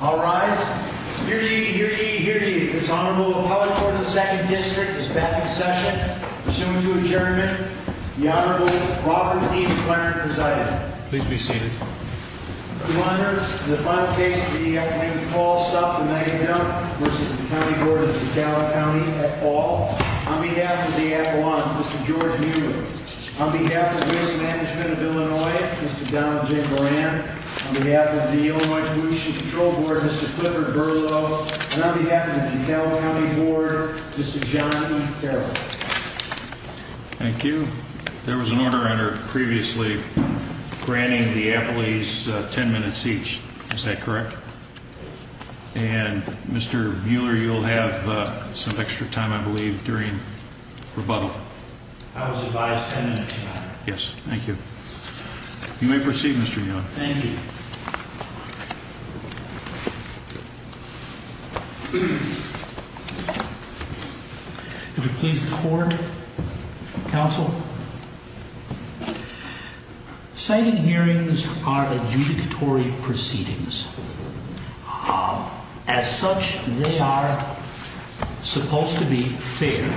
I'll rise. Hear ye, hear ye, hear ye. This Honorable Appellate Court of the 2nd District is back in session. Proceeding to adjournment. The Honorable Robert D. McClendon presided. Please be seated. Mr. McClendon, this is the final case of the afternoon. The call is to stop The Mega-Dump v. County Board of DeKalb Co. at all. On behalf of the Appalachian, Mr. George Mueller. On behalf of Risk Management of Illinois, Mr. Donald J. Moran. On behalf of the Illinois Pollution Control Board, Mr. Clifford Berlow. And on behalf of the DeKalb County Board, Mr. John Carroll. Thank you. There was an order under previously granting the appellees 10 minutes each. Is that correct? And Mr. Mueller, you'll have some extra time, I believe, during rebuttal. I was advised 10 minutes, Your Honor. Yes. Thank you. You may proceed, Mr. Young. Thank you. If it please the Court, Counsel. Signing hearings are adjudicatory proceedings. As such, they are supposed to be fair.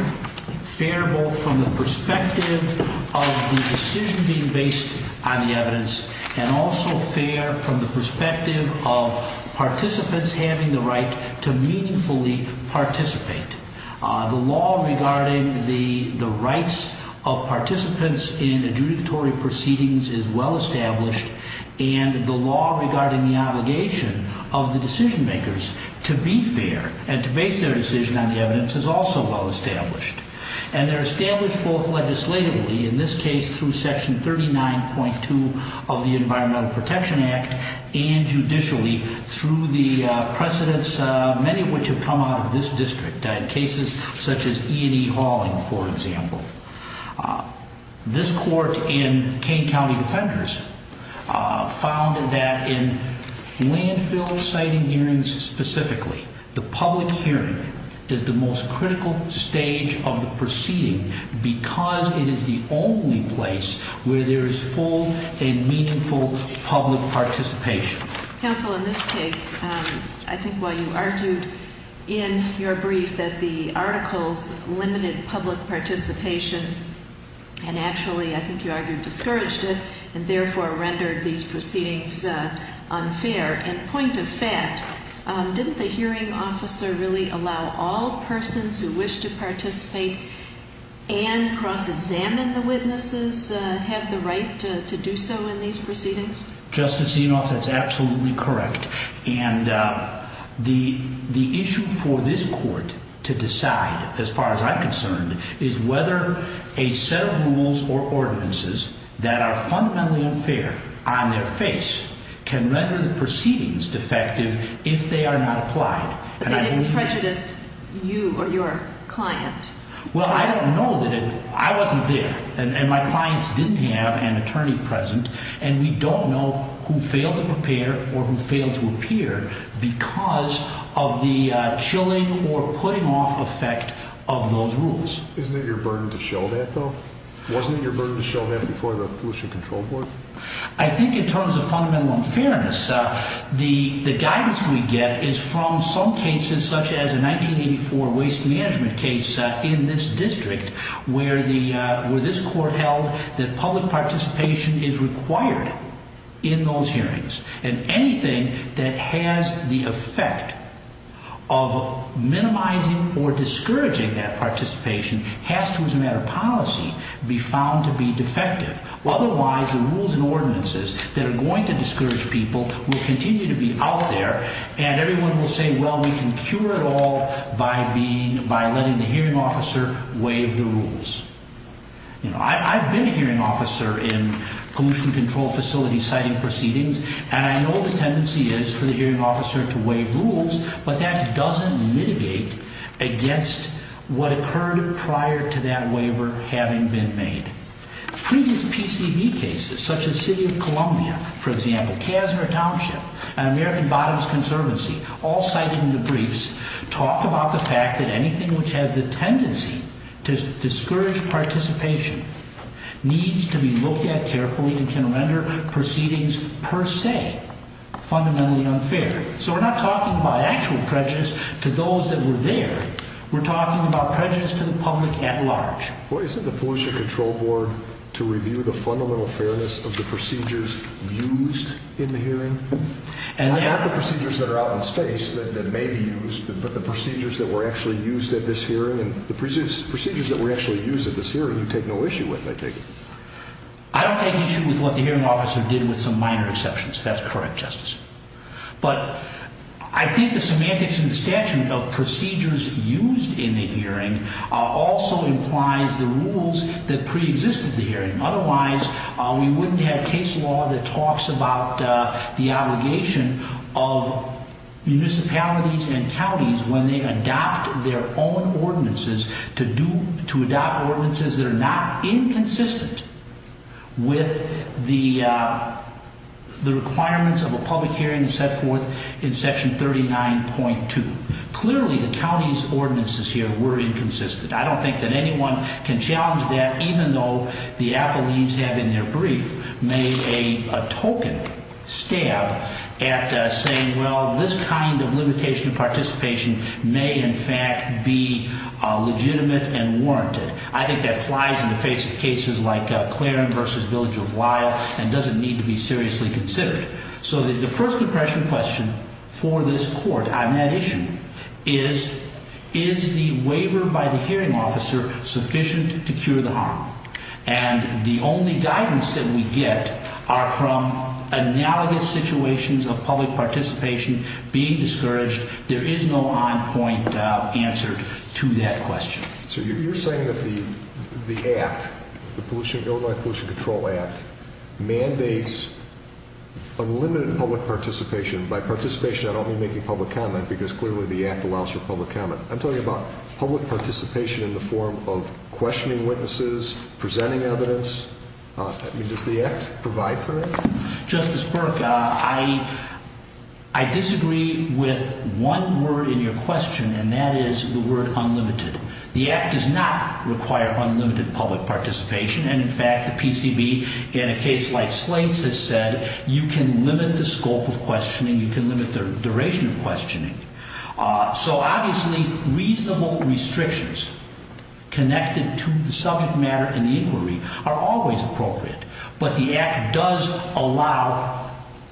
Fair both from the perspective of the decision being based on the evidence and also fair from the perspective of participants having the right to meaningfully participate. The law regarding the rights of participants in adjudicatory proceedings is well established. And the law regarding the obligation of the decision makers to be fair and to base their decision on the evidence is also well established. And they're established both legislatively, in this case through Section 39.2 of the Environmental Protection Act, and judicially through the precedents, many of which have come out of this district. Cases such as E&E Hauling, for example. This Court and Kane County Defenders found that in landfill siting hearings specifically, the public hearing is the most critical stage of the proceeding because it is the only place where there is full and meaningful public participation. Counsel, in this case, I think while you argued in your brief that the articles limited public participation and actually, I think you argued, discouraged it and therefore rendered these proceedings unfair. And point of fact, didn't the hearing officer really allow all persons who wish to participate and cross-examine the witnesses have the right to do so in these proceedings? Justice Enoff, that's absolutely correct. And the issue for this Court to decide, as far as I'm concerned, is whether a set of rules or ordinances that are fundamentally unfair on their face can render the proceedings defective if they are not applied. But they didn't prejudice you or your client. Well, I don't know that it, I wasn't there and my clients didn't have an attorney present and we don't know who failed to prepare or who failed to appear because of the chilling or putting-off effect of those rules. Isn't it your burden to show that, though? Wasn't it your burden to show that before the Pollution Control Board? I think in terms of fundamental unfairness, the guidance we get is from some cases such as a 1984 waste management case in this district where this Court held that public participation is required in those hearings. And anything that has the effect of minimizing or discouraging that participation has to, as a matter of policy, be found to be defective. Otherwise, the rules and ordinances that are going to discourage people will continue to be out there and everyone will say, well, we can cure it all by letting the hearing officer waive the rules. I've been a hearing officer in pollution control facilities citing proceedings and I know the tendency is for the hearing officer to waive rules, but that doesn't mitigate against what occurred prior to that waiver having been made. Previous PCB cases, such as City of Columbia, for example, Kasner Township, and American Bottoms Conservancy, all cited in the briefs talk about the fact that anything which has the tendency to discourage participation needs to be looked at carefully and can render proceedings per se fundamentally unfair. So we're not talking about actual prejudice to those that were there. We're talking about prejudice to the public at large. Well, isn't the Pollution Control Board to review the fundamental fairness of the procedures used in the hearing? Not the procedures that are out in space that may be used, but the procedures that were actually used at this hearing. The procedures that were actually used at this hearing you take no issue with, I take it. I don't take issue with what the hearing officer did with some minor exceptions. That's correct, Justice. But I think the semantics and the statute of procedures used in the hearing also implies the rules that preexisted the hearing. Otherwise, we wouldn't have case law that talks about the obligation of municipalities and counties when they adopt their own ordinances to adopt ordinances that are not inconsistent with the requirements of a public hearing set forth in Section 39.2. Clearly, the county's ordinances here were inconsistent. I don't think that anyone can challenge that, even though the appellees have in their brief made a token stab at saying, well, this kind of limitation of participation may, in fact, be legitimate and warranted. I think that flies in the face of cases like Claren versus Village of Lyle and doesn't need to be seriously considered. So the first impression question for this court on that issue is, is the waiver by the hearing officer sufficient to cure the harm? And the only guidance that we get are from analogous situations of public participation being discouraged. There is no on-point answer to that question. So you're saying that the act, the Illinois Pollution Control Act, mandates unlimited public participation. By participation, I don't mean making public comment, because clearly the act allows for public comment. I'm talking about public participation in the form of questioning witnesses, presenting evidence. Does the act provide for it? Justice Burke, I disagree with one word in your question, and that is the word unlimited. The act does not require unlimited public participation. And, in fact, the PCB in a case like Slate's has said you can limit the scope of questioning, you can limit the duration of questioning. So, obviously, reasonable restrictions connected to the subject matter and the inquiry are always appropriate. But the act does allow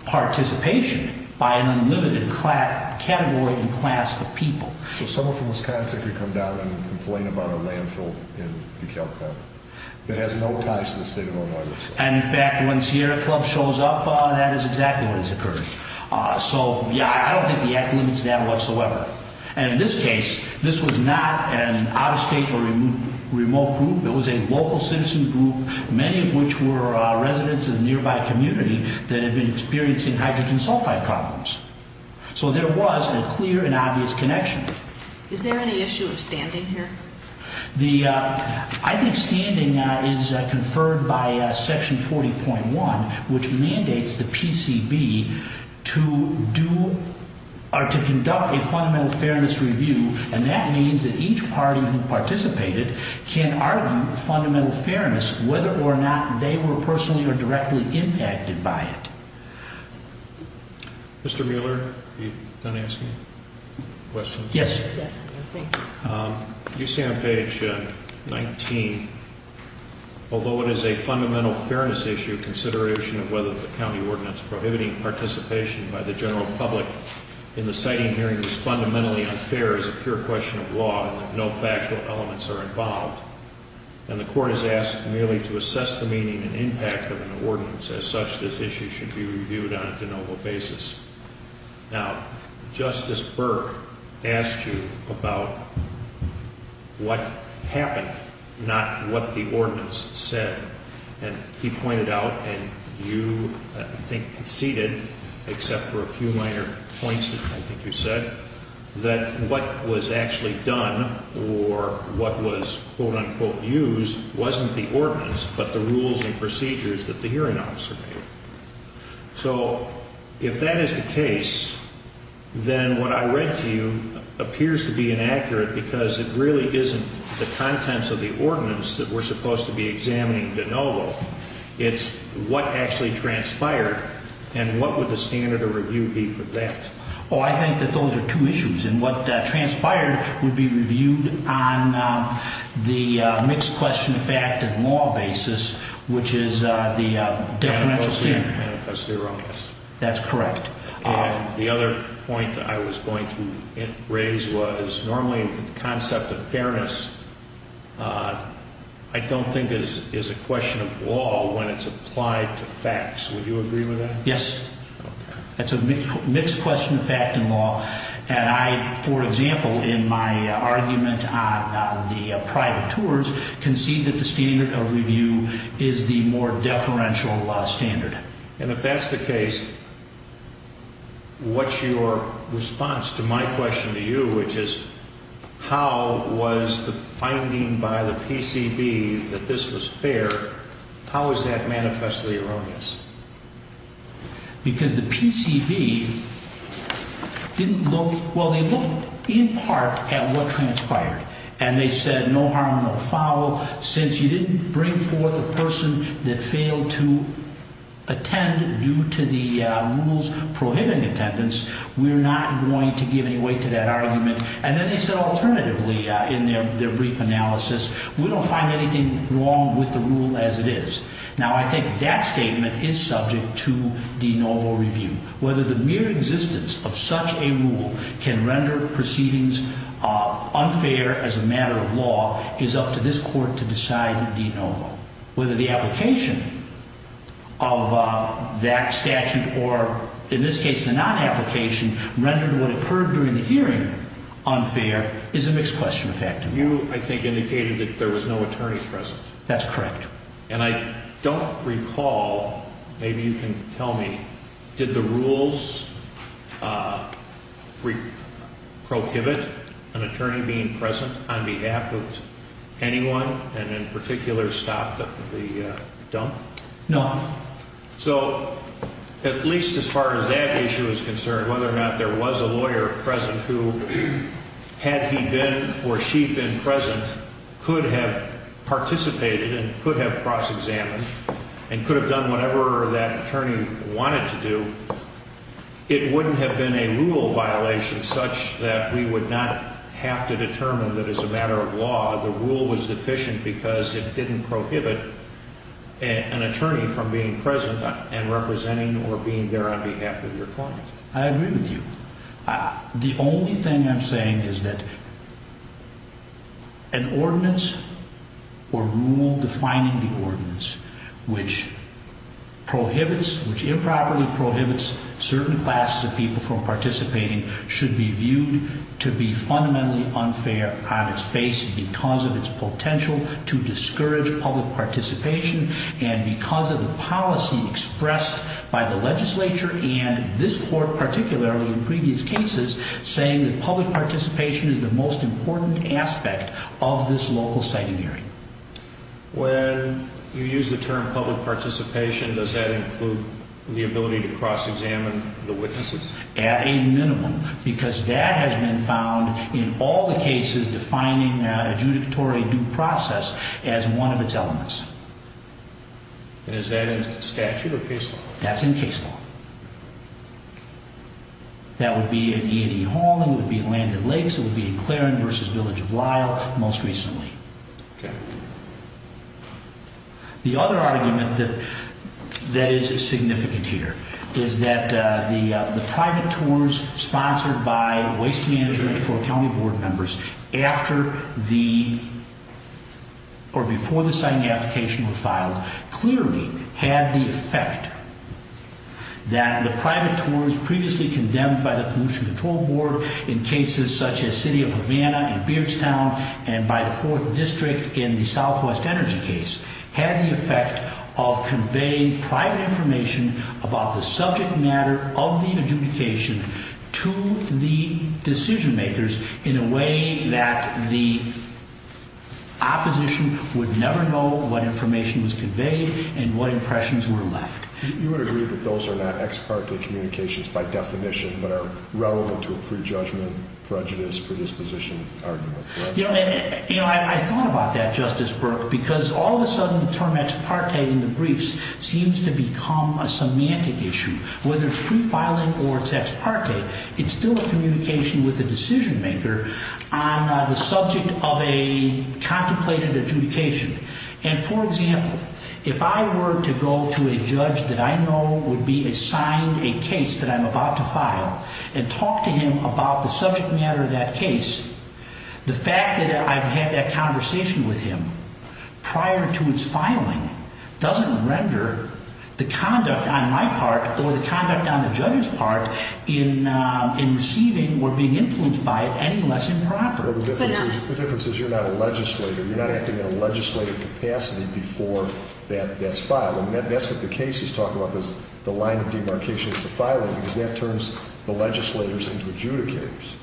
participation by an unlimited category and class of people. So someone from Wisconsin could come down and complain about a landfill in DeKalb County that has no ties to the state of Illinois? And, in fact, when Sierra Club shows up, that is exactly what has occurred. So, yeah, I don't think the act limits that whatsoever. And, in this case, this was not an out-of-state or remote group. It was a local citizen group, many of which were residents of the nearby community that had been experiencing hydrogen sulfide problems. So there was a clear and obvious connection. Is there any issue of standing here? I think standing is conferred by Section 40.1, which mandates the PCB to do or to conduct a fundamental fairness review. And that means that each party who participated can argue fundamental fairness, whether or not they were personally or directly impacted by it. Mr. Mueller, do you have a question? Yes. Thank you. You say on page 19, although it is a fundamental fairness issue, consideration of whether the county ordinance prohibiting participation by the general public in the siting hearing is fundamentally unfair is a pure question of law, and that no factual elements are involved. And the court has asked merely to assess the meaning and impact of an ordinance. As such, this issue should be reviewed on a de novo basis. Now, Justice Burke asked you about what happened, not what the ordinance said. And he pointed out, and you, I think, conceded, except for a few minor points that I think you said, that what was actually done or what was, quote, unquote, used, wasn't the ordinance, but the rules and procedures that the hearing officer made. So if that is the case, then what I read to you appears to be inaccurate, because it really isn't the contents of the ordinance that we're supposed to be examining de novo. It's what actually transpired, and what would the standard of review be for that? Oh, I think that those are two issues. And what transpired would be reviewed on the mixed question of fact and law basis, which is the differential standard. Manifesto erroneous. That's correct. And the other point I was going to raise was normally the concept of fairness I don't think is a question of law when it's applied to facts. Would you agree with that? Yes. Okay. That's a mixed question of fact and law, and I, for example, in my argument on the private tours, concede that the standard of review is the more deferential standard. And if that's the case, what's your response to my question to you, which is how was the finding by the PCB that this was fair, how is that manifestly erroneous? Because the PCB didn't look, well, they looked in part at what transpired, and they said no harm, no foul. Since you didn't bring forth a person that failed to attend due to the rules prohibiting attendance, we're not going to give any weight to that argument. And then they said alternatively in their brief analysis, we don't find anything wrong with the rule as it is. Now, I think that statement is subject to de novo review. Whether the mere existence of such a rule can render proceedings unfair as a matter of law is up to this Court to decide de novo. Whether the application of that statute or, in this case, the non-application rendered what occurred during the hearing unfair is a mixed question of fact and law. You, I think, indicated that there was no attorney present. That's correct. And I don't recall, maybe you can tell me, did the rules prohibit an attorney being present on behalf of anyone and in particular stop the dump? No. So at least as far as that issue is concerned, whether or not there was a lawyer present who, had he been or she been present, could have participated and could have cross-examined and could have done whatever that attorney wanted to do, it wouldn't have been a rule violation such that we would not have to determine that as a matter of law the rule was deficient because it didn't prohibit an attorney from being present and representing or being there on behalf of your client. I agree with you. The only thing I'm saying is that an ordinance or rule defining the ordinance which prohibits, which improperly prohibits certain classes of people from participating should be viewed to be fundamentally unfair on its face because of its potential to discourage public participation and because of the policy expressed by the legislature and this court particularly in previous cases saying that public participation is the most important aspect of this local siting hearing. When you use the term public participation, does that include the ability to cross-examine the witnesses? At a minimum because that has been found in all the cases defining adjudicatory due process as one of its elements. Is that in statute or case law? That's in case law. That would be in E&E Hall, it would be in Land and Lakes, it would be in Claren versus Village of Lyle most recently. Okay. The other argument that is significant here is that the private tours sponsored by Waste Management for County Board Members after the or before the siting application was filed clearly had the effect that the private tours previously condemned by the Pollution Control Board in cases such as City of Havana and Beardstown and by the 4th District in the Southwest Energy case had the effect of conveying private information about the subject matter of the adjudication to the decision makers in a way that the opposition would never know what information was conveyed and what impressions were left. You would agree that those are not ex parte communications by definition but are relevant to a prejudgment, prejudice, predisposition argument? You know, I thought about that, Justice Burke, because all of a sudden the term ex parte in the briefs seems to become a semantic issue. Whether it's pre-filing or it's ex parte, it's still a communication with the decision maker on the subject of a contemplated adjudication. And for example, if I were to go to a judge that I know would be assigned a case that I'm about to file and talk to him about the subject matter of that case, the fact that I've had that conversation with him prior to its filing doesn't render the conduct on my part or the conduct on the judge's part in receiving or being influenced by it any less improper. The difference is you're not a legislator. You're not acting in a legislative capacity before that's filed. And that's what the case is talking about, the line of demarcation to filing, because that turns the legislators into adjudicators.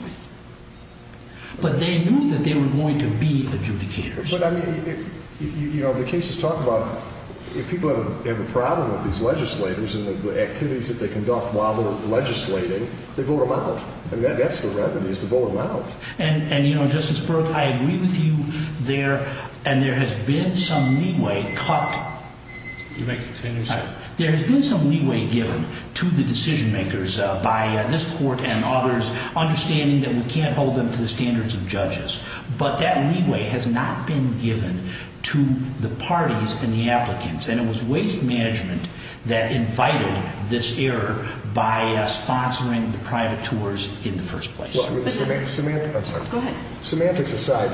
But they knew that they were going to be adjudicators. But I mean, you know, the case is talking about if people have a problem with these legislators and the activities that they conduct while they're legislating, they vote them out. I mean, that's the remedy is to vote them out. And, you know, Justice Berg, I agree with you there. And there has been some leeway cut. You may continue, sir. There has been some leeway given to the decision makers by this court and others, understanding that we can't hold them to the standards of judges. But that leeway has not been given to the parties and the applicants. And it was waste management that invited this error by sponsoring the private tours in the first place. Semantics aside,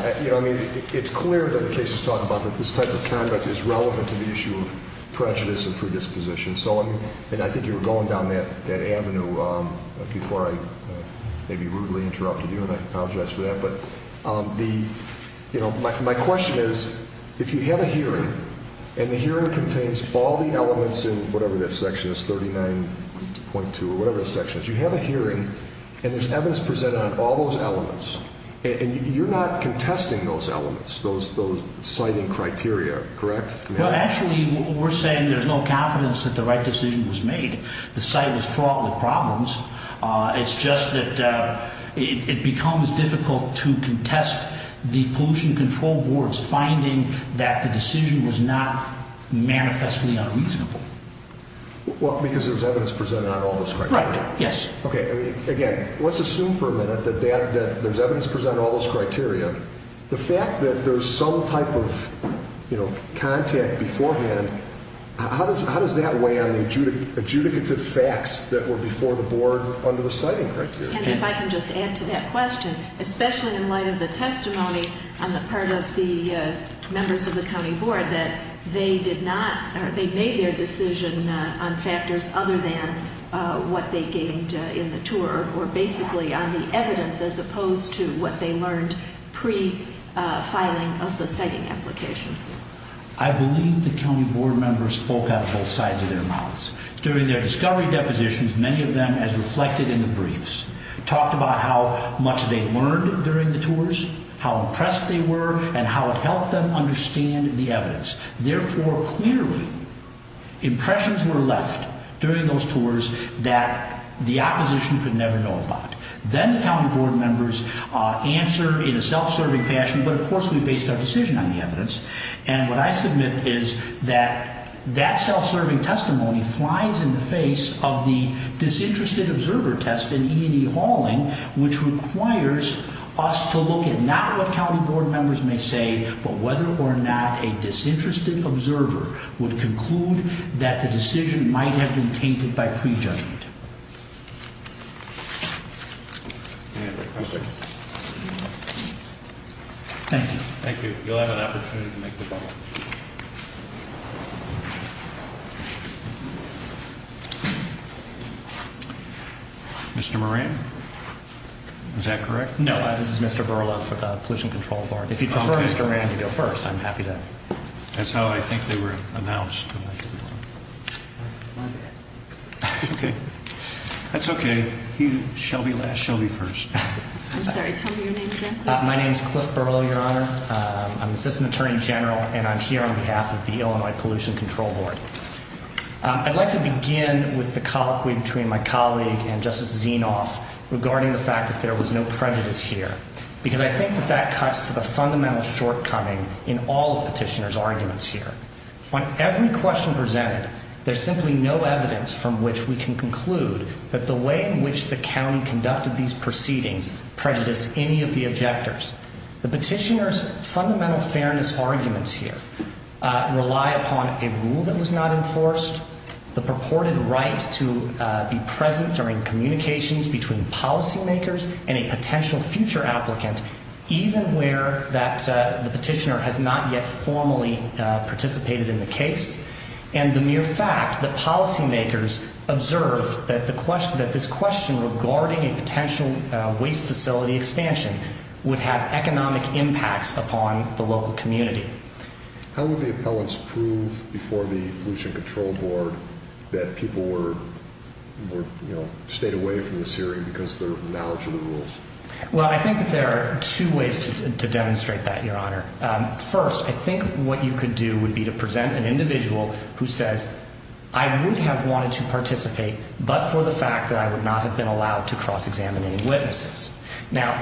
it's clear that the case is talking about that this type of conduct is relevant to the issue of prejudice and predisposition. And I think you were going down that avenue before I maybe rudely interrupted you, and I apologize for that. But my question is, if you have a hearing and the hearing contains all the elements in whatever this section is, 39.2 or whatever this section is, if you have a hearing and there's evidence presented on all those elements, and you're not contesting those elements, those citing criteria, correct? Well, actually, we're saying there's no confidence that the right decision was made. The site was fraught with problems. It's just that it becomes difficult to contest the pollution control boards finding that the decision was not manifestly unreasonable. Well, because there's evidence presented on all those criteria. Right, yes. Okay, again, let's assume for a minute that there's evidence presented on all those criteria. The fact that there's some type of contact beforehand, how does that weigh on the adjudicative facts that were before the board under the citing criteria? And if I can just add to that question, especially in light of the testimony on the part of the members of the county board, that they did not, or they made their decision on factors other than what they gained in the tour, or basically on the evidence as opposed to what they learned pre-filing of the citing application. I believe the county board members spoke out both sides of their mouths. During their discovery depositions, many of them, as reflected in the briefs, talked about how much they learned during the tours, how impressed they were, and how it helped them understand the evidence. Therefore, clearly, impressions were left during those tours that the opposition could never know about. Then the county board members answered in a self-serving fashion, but of course we based our decision on the evidence. And what I submit is that that self-serving testimony flies in the face of the disinterested observer test in E&E Hauling, which requires us to look at not what county board members may say, but whether or not a disinterested observer would conclude that the decision might have been tainted by prejudgment. Thank you. Thank you. You'll have an opportunity to make the vote. Mr. Moran, is that correct? No, this is Mr. Berla for the Pollution Control Board. If you prefer Mr. Moran, you go first. I'm happy to. That's how I think they were announced. Okay. That's okay. Shelby first. I'm sorry. Tell me your name again, please. My name is Cliff Berla, Your Honor. I'm the Assistant Attorney General, and I'm here on behalf of the Illinois Pollution Control Board. I'd like to begin with the colloquy between my colleague and Justice Zinoff regarding the fact that there was no prejudice here, because I think that that cuts to the fundamental shortcoming in all of Petitioner's arguments here. On every question presented, there's simply no evidence from which we can conclude that the way in which the county conducted these proceedings prejudiced any of the objectors. The Petitioner's fundamental fairness arguments here rely upon a rule that was not enforced, the purported right to be present during communications between policymakers and a potential future applicant, even where the Petitioner has not yet formally participated in the case, and the mere fact that policymakers observed that this question regarding a potential waste facility expansion would have economic impacts upon the local community. How would the appellants prove before the Pollution Control Board that people stayed away from this hearing because of their knowledge of the rules? Well, I think that there are two ways to demonstrate that, Your Honor. First, I think what you could do would be to present an individual who says, I would have wanted to participate, but for the fact that I would not have been allowed to cross-examine any witnesses. Now,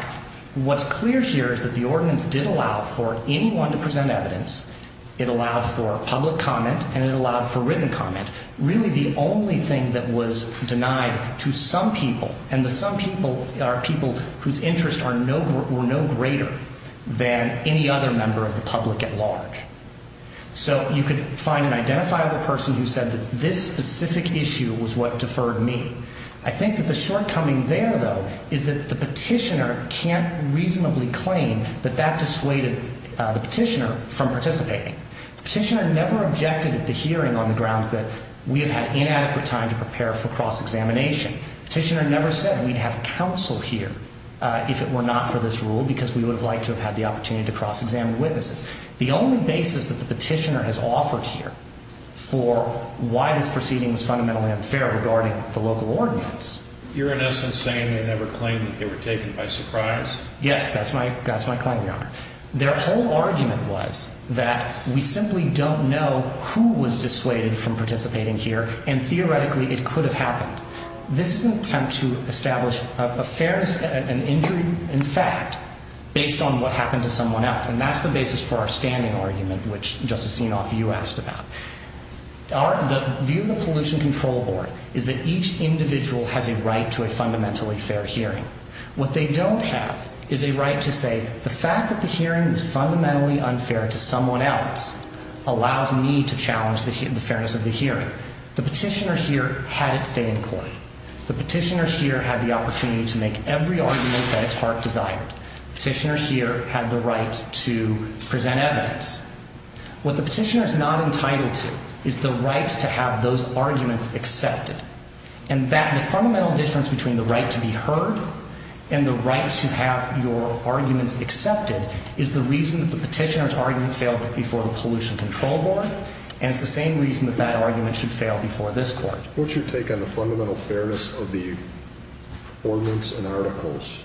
what's clear here is that the ordinance did allow for anyone to present evidence. It allowed for public comment, and it allowed for written comment. Really, the only thing that was denied to some people, and the some people are people whose interests were no greater than any other member of the public at large. So you could find an identifiable person who said that this specific issue was what deferred me. I think that the shortcoming there, though, is that the Petitioner can't reasonably claim that that dissuaded the Petitioner from participating. The Petitioner never objected at the hearing on the grounds that we have had inadequate time to prepare for cross-examination. The Petitioner never said we'd have counsel here if it were not for this rule because we would have liked to have had the opportunity to cross-examine witnesses. The only basis that the Petitioner has offered here for why this proceeding was fundamentally unfair regarding the local ordinance. You're, in essence, saying they never claimed that they were taken by surprise? Their whole argument was that we simply don't know who was dissuaded from participating here, and theoretically it could have happened. This is an attempt to establish a fairness, an injury in fact, based on what happened to someone else. And that's the basis for our standing argument, which Justice Enoff, you asked about. The view of the Pollution Control Board is that each individual has a right to a fundamentally fair hearing. What they don't have is a right to say the fact that the hearing is fundamentally unfair to someone else allows me to challenge the fairness of the hearing. The Petitioner here had its day in court. The Petitioner here had the opportunity to make every argument that its heart desired. The Petitioner here had the right to present evidence. What the Petitioner is not entitled to is the right to have those arguments accepted. And the fundamental difference between the right to be heard and the right to have your arguments accepted is the reason that the Petitioner's argument failed before the Pollution Control Board. And it's the same reason that that argument should fail before this Court. What's your take on the fundamental fairness of the ordinance and articles?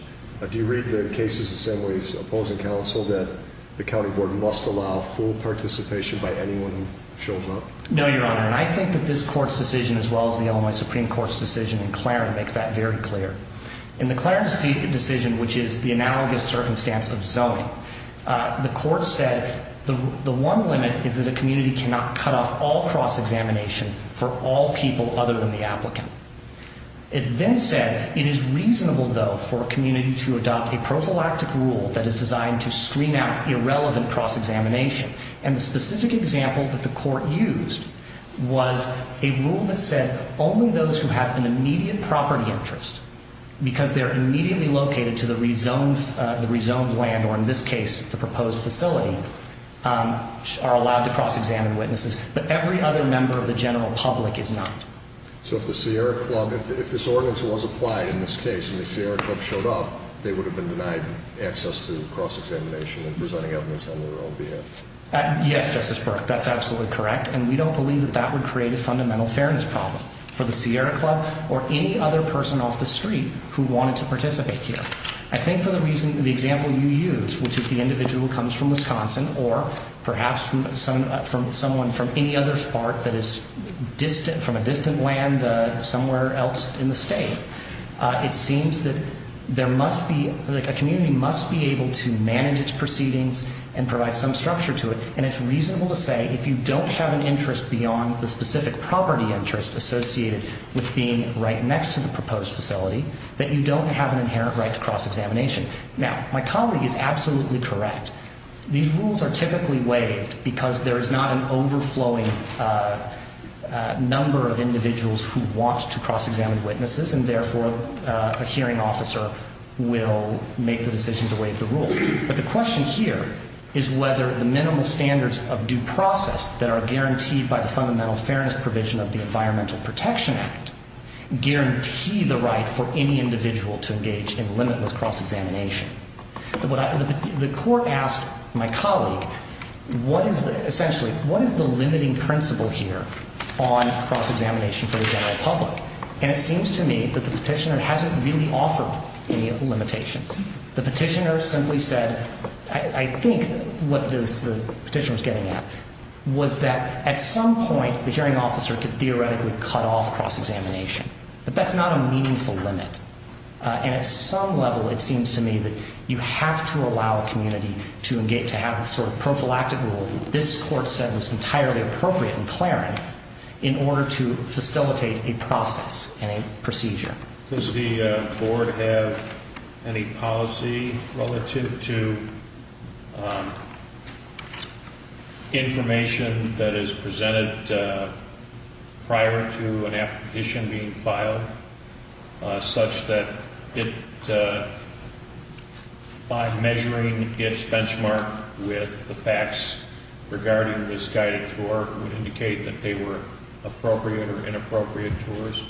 Do you read the cases the same way as opposing counsel that the County Board must allow full participation by anyone who shows up? No, Your Honor, and I think that this Court's decision, as well as the Illinois Supreme Court's decision in Clarence, makes that very clear. In the Clarence decision, which is the analogous circumstance of zoning, the Court said the one limit is that a community cannot cut off all cross-examination for all people other than the applicant. It then said it is reasonable, though, for a community to adopt a prophylactic rule that is designed to screen out irrelevant cross-examination. And the specific example that the Court used was a rule that said only those who have an immediate property interest, because they're immediately located to the rezoned land or, in this case, the proposed facility, are allowed to cross-examine witnesses. But every other member of the general public is not. So if the Sierra Club – if this ordinance was applied in this case and the Sierra Club showed up, they would have been denied access to cross-examination and presenting evidence on their own behalf? Yes, Justice Burke, that's absolutely correct, and we don't believe that that would create a fundamental fairness problem for the Sierra Club or any other person off the street who wanted to participate here. I think for the reason – the example you used, which is the individual comes from Wisconsin or perhaps from someone from any other part that is distant – from a distant land somewhere else in the state, it seems that there must be – like, a community must be able to manage its proceedings and provide some structure to it. Now, my colleague is absolutely correct. These rules are typically waived because there is not an overflowing number of individuals who want to cross-examine witnesses, and therefore a hearing officer will make the decision to waive the rule. But the question here is whether the minimal standards of due process that are guaranteed by the fundamental fairness provision of the Environmental Protection Act guarantee the right for any individual to engage in limitless cross-examination. The court asked my colleague, what is the – essentially, what is the limiting principle here on cross-examination for the general public? And it seems to me that the petitioner hasn't really offered any limitation. The petitioner simply said – I think what the petitioner was getting at was that at some point, the hearing officer could theoretically cut off cross-examination. But that's not a meaningful limit. And at some level, it seems to me that you have to allow a community to engage – to have a sort of prophylactic rule that this court said was entirely appropriate and clear in order to facilitate a process and a procedure. Does the board have any policy relative to information that is presented prior to an application being filed such that it, by measuring its benchmark with the facts regarding this guided tour, would indicate that they were appropriate or inappropriate tours?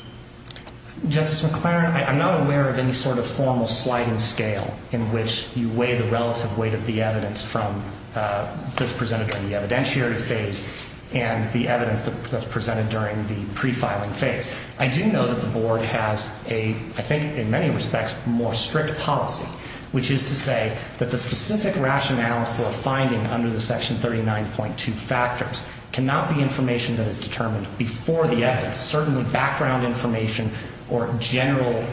Justice McClaren, I'm not aware of any sort of formal sliding scale in which you weigh the relative weight of the evidence from – that's presented during the evidentiary phase and the evidence that's presented during the prefiling phase. I do know that the board has a, I think in many respects, more strict policy, which is to say that the specific rationale for a finding under the section 39.2 factors cannot be information that is determined before the evidence. Certainly background information or general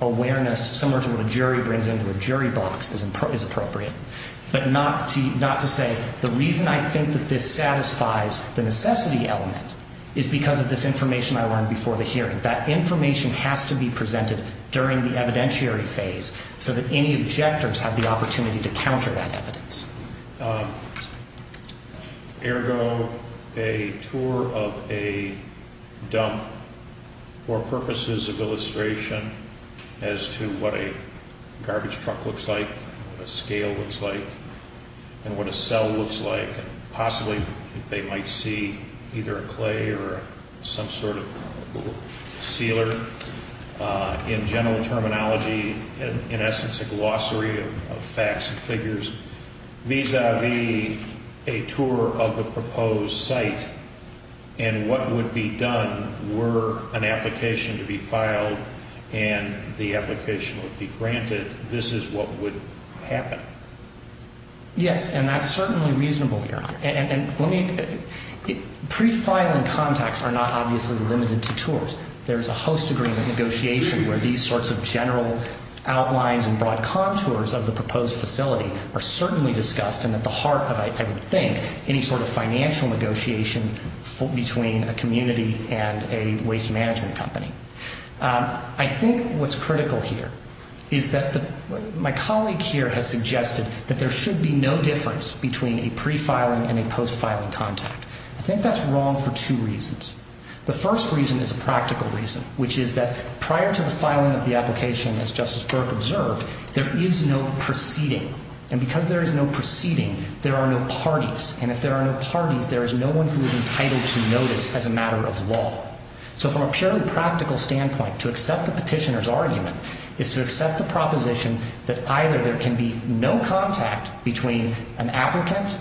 awareness, similar to what a jury brings into a jury box, is appropriate. But not to say the reason I think that this satisfies the necessity element is because of this information I learned before the hearing. That information has to be presented during the evidentiary phase so that any objectors have the opportunity to counter that evidence. Ergo, a tour of a dump for purposes of illustration as to what a garbage truck looks like, what a scale looks like, and what a cell looks like, and possibly if they might see either a clay or some sort of sealer. In general terminology, in essence, a glossary of facts and figures. Vis-a-vis a tour of the proposed site and what would be done were an application to be filed and the application would be granted, this is what would happen. Yes, and that's certainly reasonable, Your Honor. Pre-filing contacts are not obviously limited to tours. There's a host agreement negotiation where these sorts of general outlines and broad contours of the proposed facility are certainly discussed and at the heart of, I would think, any sort of financial negotiation between a community and a waste management company. I think what's critical here is that my colleague here has suggested that there should be no difference between a pre-filing and a post-filing contact. I think that's wrong for two reasons. The first reason is a practical reason, which is that prior to the filing of the application, as Justice Burke observed, there is no proceeding. And because there is no proceeding, there are no parties. And if there are no parties, there is no one who is entitled to notice as a matter of law. So from a purely practical standpoint, to accept the petitioner's argument is to accept the proposition that either there can be no contact between an applicant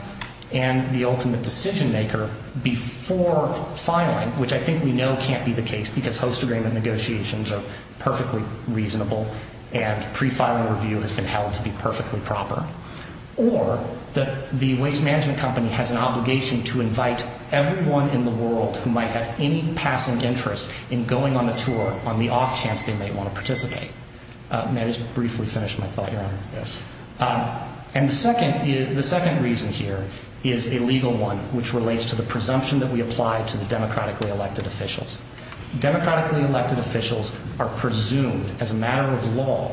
and the ultimate decision-maker before filing, which I think we know can't be the case because host agreement negotiations are perfectly reasonable and pre-filing review has been held to be perfectly proper, or that the waste management company has an obligation to invite everyone in the world who might have any passing interest in going on a tour on the off chance they may want to participate. May I just briefly finish my thought, Your Honor? Yes. And the second reason here is a legal one, which relates to the presumption that we apply to the democratically elected officials. Democratically elected officials are presumed, as a matter of law,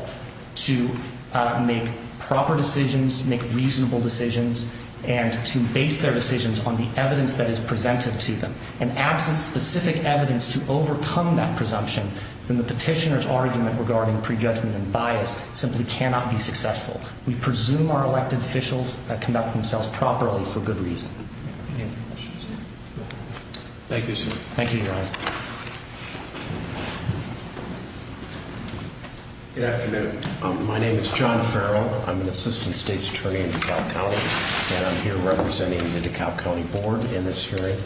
to make proper decisions, make reasonable decisions, and to base their decisions on the evidence that is presented to them. And absent specific evidence to overcome that presumption, then the petitioner's argument regarding prejudgment and bias simply cannot be successful. We presume our elected officials conduct themselves properly for good reason. Thank you, sir. Thank you, Your Honor. Good afternoon. My name is John Farrell. I'm an Assistant State's Attorney in DeKalb County, and I'm here representing the DeKalb County Board in this hearing.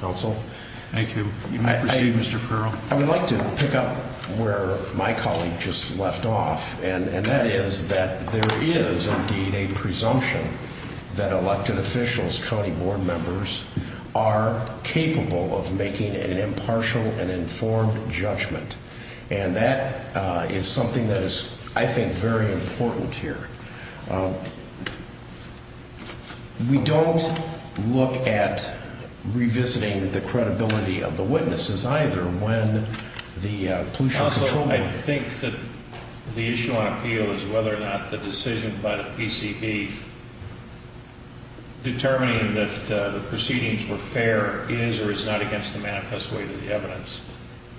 Counsel? Thank you. You may proceed, Mr. Farrell. I would like to pick up where my colleague just left off, and that is that there is indeed a presumption that elected officials, county board members, are capable of making an impartial and informed judgment. And that is something that is, I think, very important here. We don't look at revisiting the credibility of the witnesses, either, when the pollution control… Counsel, I think that the issue on appeal is whether or not the decision by the PCB determining that the proceedings were fair is or is not against the manifest way to the evidence.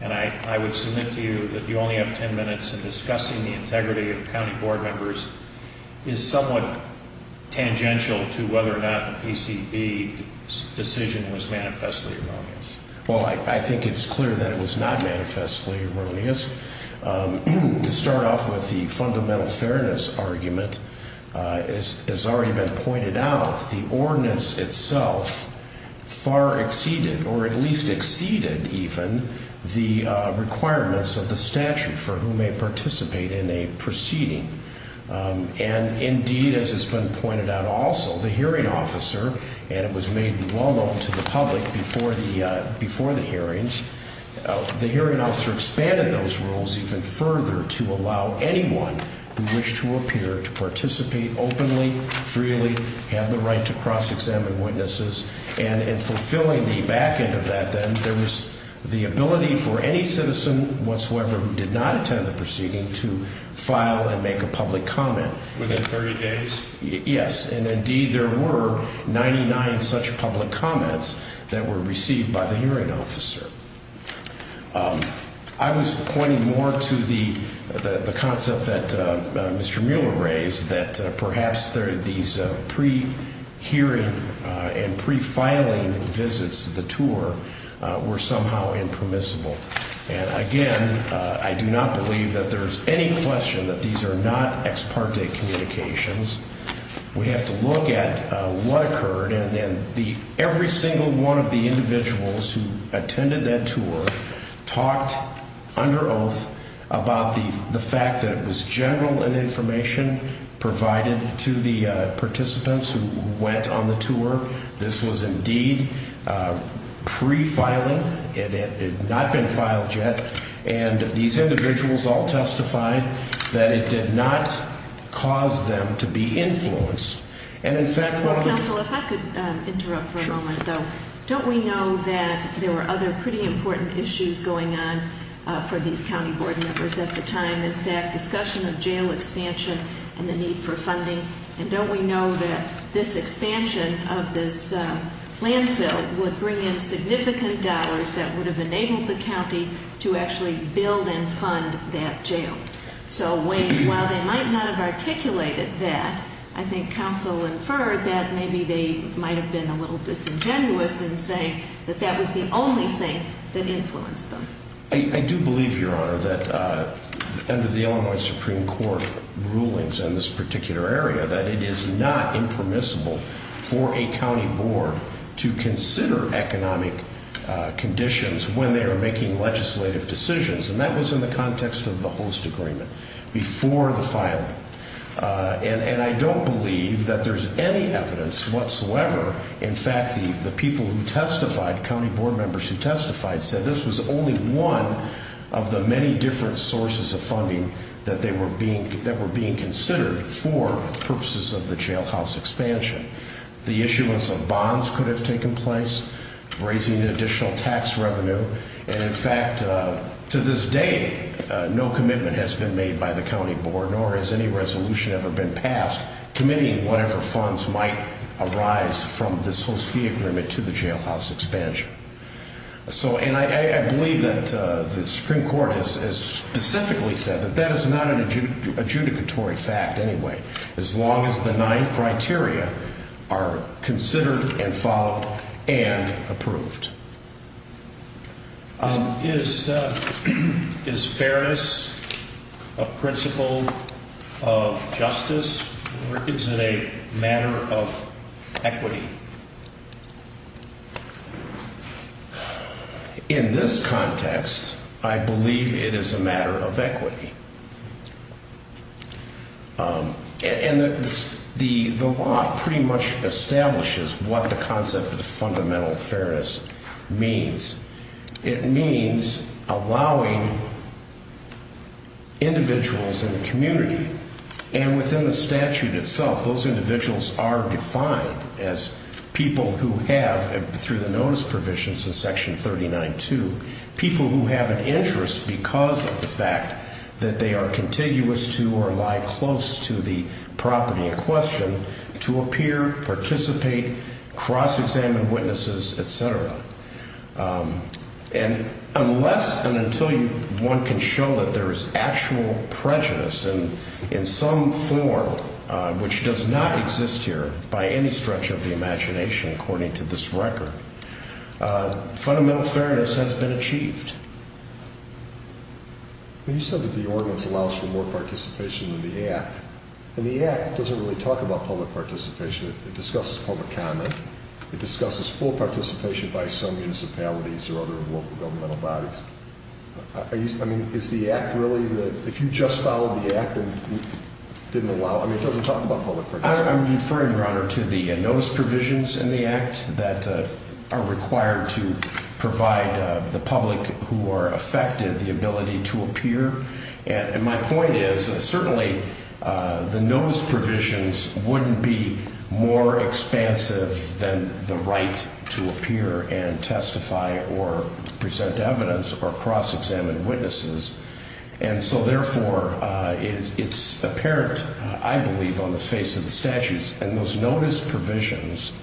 And I would submit to you that you only have 10 minutes, and discussing the integrity of county board members is somewhat tangential to whether or not the PCB's decision was manifestly erroneous. Well, I think it's clear that it was not manifestly erroneous. To start off with the fundamental fairness argument, as has already been pointed out, the ordinance itself far exceeded, or at least exceeded even, the requirements of the statute for who may participate in a proceeding. And indeed, as has been pointed out also, the hearing officer, and it was made well known to the public before the hearings, the hearing officer expanded those rules even further to allow anyone who wished to appear to participate openly, freely, have the right to cross-examine witnesses. And in fulfilling the back end of that, then, there was the ability for any citizen whatsoever who did not attend the proceeding to file and make a public comment. Within 30 days? Yes. And indeed, there were 99 such public comments that were received by the hearing officer. I was pointing more to the concept that Mr. Mueller raised, that perhaps these pre-hearing and pre-filing visits to the tour were somehow impermissible. And again, I do not believe that there is any question that these are not ex parte communications. We have to look at what occurred, and every single one of the individuals who attended that tour talked under oath about the fact that it was general information provided to the participants who went on the tour. This was indeed pre-filing. It had not been filed yet. And these individuals all testified that it did not cause them to be influenced. Well, counsel, if I could interrupt for a moment though. Don't we know that there were other pretty important issues going on for these county board members at the time? In fact, discussion of jail expansion and the need for funding. And don't we know that this expansion of this landfill would bring in significant dollars that would have enabled the county to actually build and fund that jail? So while they might not have articulated that, I think counsel inferred that maybe they might have been a little disingenuous in saying that that was the only thing that influenced them. I do believe, Your Honor, that under the Illinois Supreme Court rulings in this particular area that it is not impermissible for a county board to consider economic conditions when they are making legislative decisions. And that was in the context of the host agreement before the filing. And I don't believe that there's any evidence whatsoever. In fact, the people who testified, county board members who testified, said this was only one of the many different sources of funding that were being considered for purposes of the jailhouse expansion. The issuance of bonds could have taken place, raising additional tax revenue. And in fact, to this day, no commitment has been made by the county board nor has any resolution ever been passed committing whatever funds might arise from this host fee agreement to the jailhouse expansion. And I believe that the Supreme Court has specifically said that that is not an adjudicatory fact anyway, as long as the nine criteria are considered and followed and approved. Is fairness a principle of justice or is it a matter of equity? In this context, I believe it is a matter of equity. And the law pretty much establishes what the concept of fundamental fairness means. It means allowing individuals in the community, and within the statute itself, those individuals are defined as people who have, through the notice provisions of Section 39-2, people who have an interest because of the fact that they are contiguous to or lie close to the property in question to appear, participate, cross-examine witnesses, et cetera. And unless and until one can show that there is actual prejudice in some form, which does not exist here by any stretch of the imagination, according to this record, fundamental fairness has been achieved. You said that the ordinance allows for more participation in the Act. And the Act doesn't really talk about public participation. It discusses public comment. It discusses full participation by some municipalities or other local governmental bodies. I mean, is the Act really the – if you just followed the Act and didn't allow – I mean, it doesn't talk about public participation. I'm referring, Your Honor, to the notice provisions in the Act that are required to provide the public who are affected the ability to appear. And my point is certainly the notice provisions wouldn't be more expansive than the right to appear and testify or present evidence or cross-examine witnesses. And so, therefore, it's apparent, I believe, on the face of the statutes and those notice provisions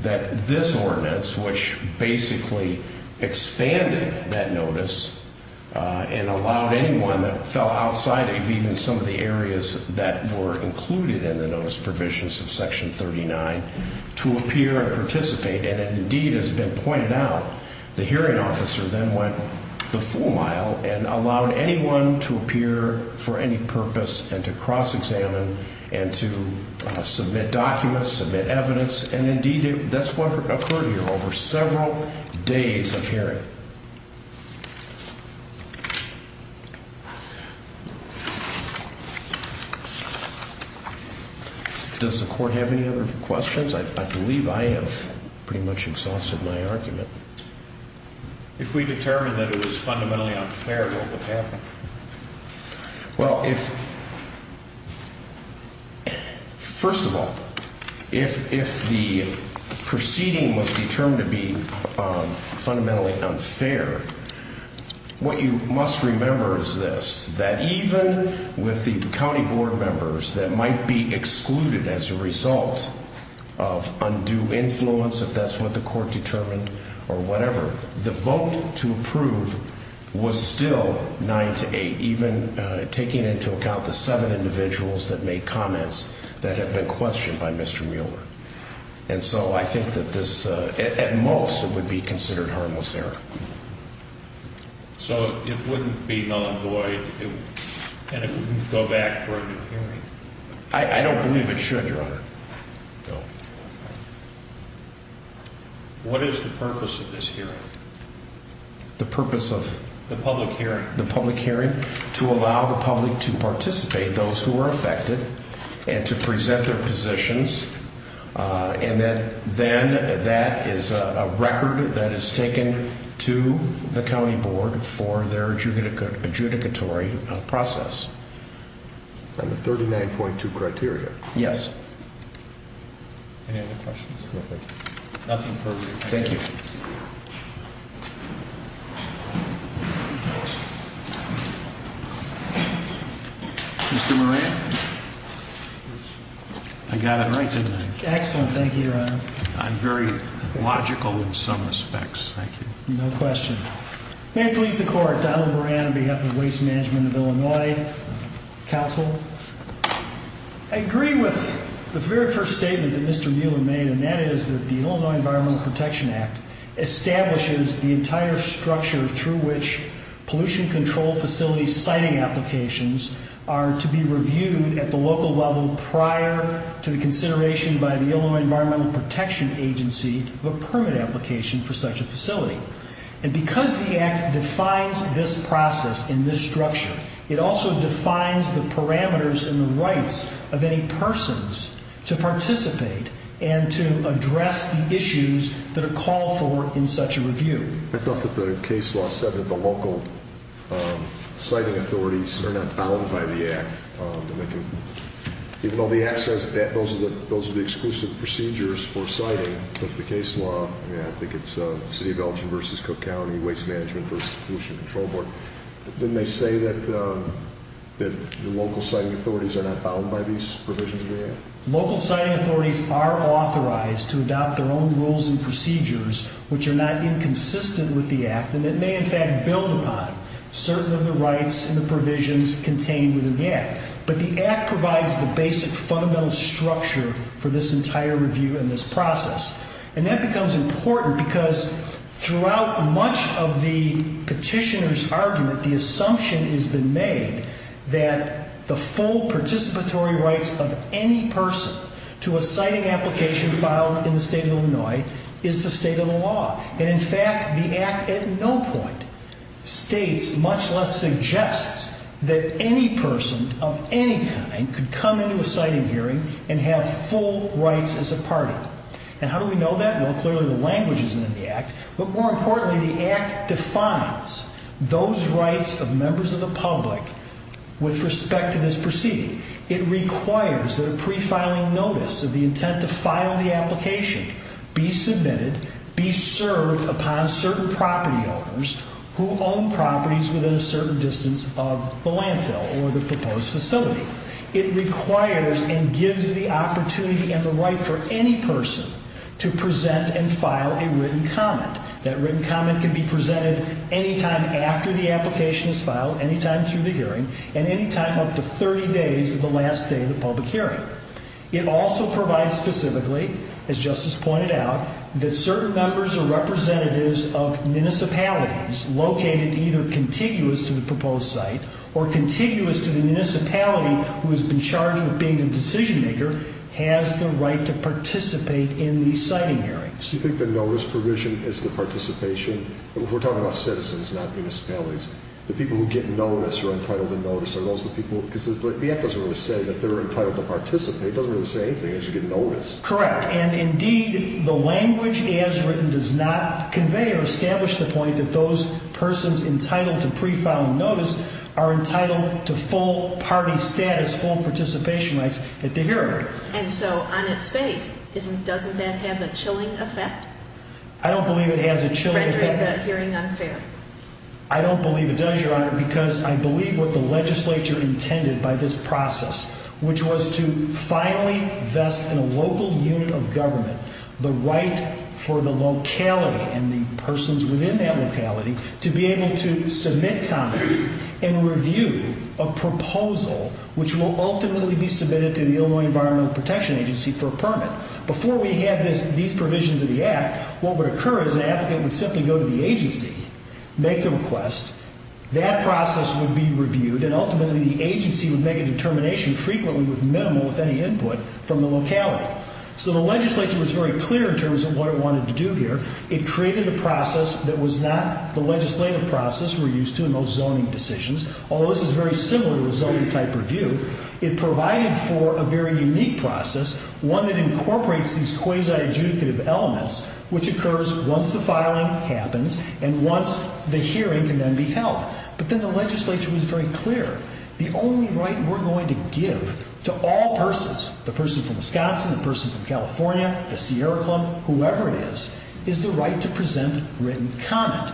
that this ordinance, which basically expanded that notice and allowed anyone that fell outside of even some of the areas that were included in the notice provisions of Section 39 to appear and participate, and it indeed has been pointed out, the hearing officer then went the full mile and allowed anyone to appear for any purpose and to cross-examine and to submit documents, submit evidence, and indeed that's what occurred here over several days of hearing. Does the Court have any other questions? I believe I have pretty much exhausted my argument. If we determine that it was fundamentally unfair, what would happen? Well, first of all, if the proceeding was determined to be fundamentally unfair, what you must remember is this, that even with the county board members that might be excluded as a result of undue influence, if that's what the Court determined or whatever, the vote to approve was still 9 to 8, even taking into account the seven individuals that made comments that had been questioned by Mr. Mueller. And so I think that this, at most, it would be considered harmless error. So it wouldn't be non-void and it wouldn't go back for a new hearing? I don't believe it should, Your Honor. What is the purpose of this hearing? The purpose of? The public hearing. The public hearing? To allow the public to participate, those who are affected, and to present their positions, and then that is a record that is taken to the county board for their adjudicatory process. From the 39.2 criteria? Yes. Any other questions? No, thank you. Nothing further. Thank you. Mr. Moran? I got it right, didn't I? Excellent, thank you, Your Honor. I'm very logical in some respects, thank you. No question. May it please the Court, Donald Moran on behalf of Waste Management of Illinois Council. I agree with the very first statement that Mr. Mueller made, and that is that the Illinois Environmental Protection Act establishes the entire structure through which pollution control facility siting applications are to be reviewed at the local level prior to the consideration by the Illinois Environmental Protection Agency of a permit application for such a facility. And because the Act defines this process and this structure, it also defines the parameters and the rights of any persons to participate and to address the issues that are called for in such a review. I thought that the case law said that the local siting authorities are not bound by the Act. Even though the Act says that those are the exclusive procedures for siting, but the case law, I think it's the City of Elgin v. Cook County Waste Management v. Pollution Control Board, didn't they say that the local siting authorities are not bound by these provisions of the Act? Local siting authorities are authorized to adopt their own rules and procedures, which are not inconsistent with the Act, and that may in fact build upon certain of the rights and the provisions contained within the Act. But the Act provides the basic fundamental structure for this entire review and this process. And that becomes important because throughout much of the petitioner's argument, the assumption has been made that the full participatory rights of any person to a siting application filed in the State of Illinois is the state of the law. And in fact, the Act at no point states, much less suggests, that any person of any kind could come into a siting hearing and have full rights as a party. And how do we know that? Well, clearly the language isn't in the Act, but more importantly the Act defines those rights of members of the public with respect to this proceeding. It requires that a pre-filing notice of the intent to file the application be submitted, be served upon certain property owners who own properties within a certain distance of the landfill or the proposed facility. It requires and gives the opportunity and the right for any person to present and file a written comment. That written comment can be presented any time after the application is filed, any time through the hearing, and any time up to 30 days of the last day of the public hearing. It also provides specifically, as Justice pointed out, that certain members or representatives of municipalities located either contiguous to the proposed site or contiguous to the municipality who has been charged with being the decision maker has the right to participate in these siting hearings. Do you think the notice provision is the participation? We're talking about citizens, not municipalities. The people who get notice or are entitled to notice, are those the people? Because the Act doesn't really say that they're entitled to participate. It doesn't really say anything that you get notice. Correct, and indeed the language as written does not convey or establish the point that those persons entitled to pre-filing notice are entitled to full party status, full participation rights at the hearing. And so on its face, doesn't that have a chilling effect? I don't believe it has a chilling effect. In rendering the hearing unfair. I don't believe it does, Your Honor, because I believe what the legislature intended by this process, which was to finally vest in a local unit of government the right for the locality and the persons within that locality to be able to submit comment and review a proposal which will ultimately be submitted to the Illinois Environmental Protection Agency for a permit. Before we had these provisions of the Act, what would occur is an applicant would simply go to the agency, make the request, that process would be reviewed, and ultimately the agency would make a determination, frequently with minimal, with any input, from the locality. So the legislature was very clear in terms of what it wanted to do here. It created a process that was not the legislative process we're used to in most zoning decisions, although this is very similar to a zoning type review. It provided for a very unique process, one that incorporates these quasi-adjudicative elements which occurs once the filing happens and once the hearing can then be held. But then the legislature was very clear. The only right we're going to give to all persons, the person from Wisconsin, the person from California, the Sierra Club, whoever it is, is the right to present written comment.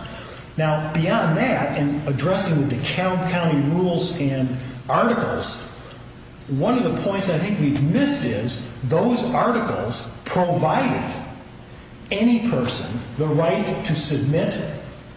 Now, beyond that, in addressing the DeKalb County rules and articles, one of the points I think we've missed is those articles provided any person the right to submit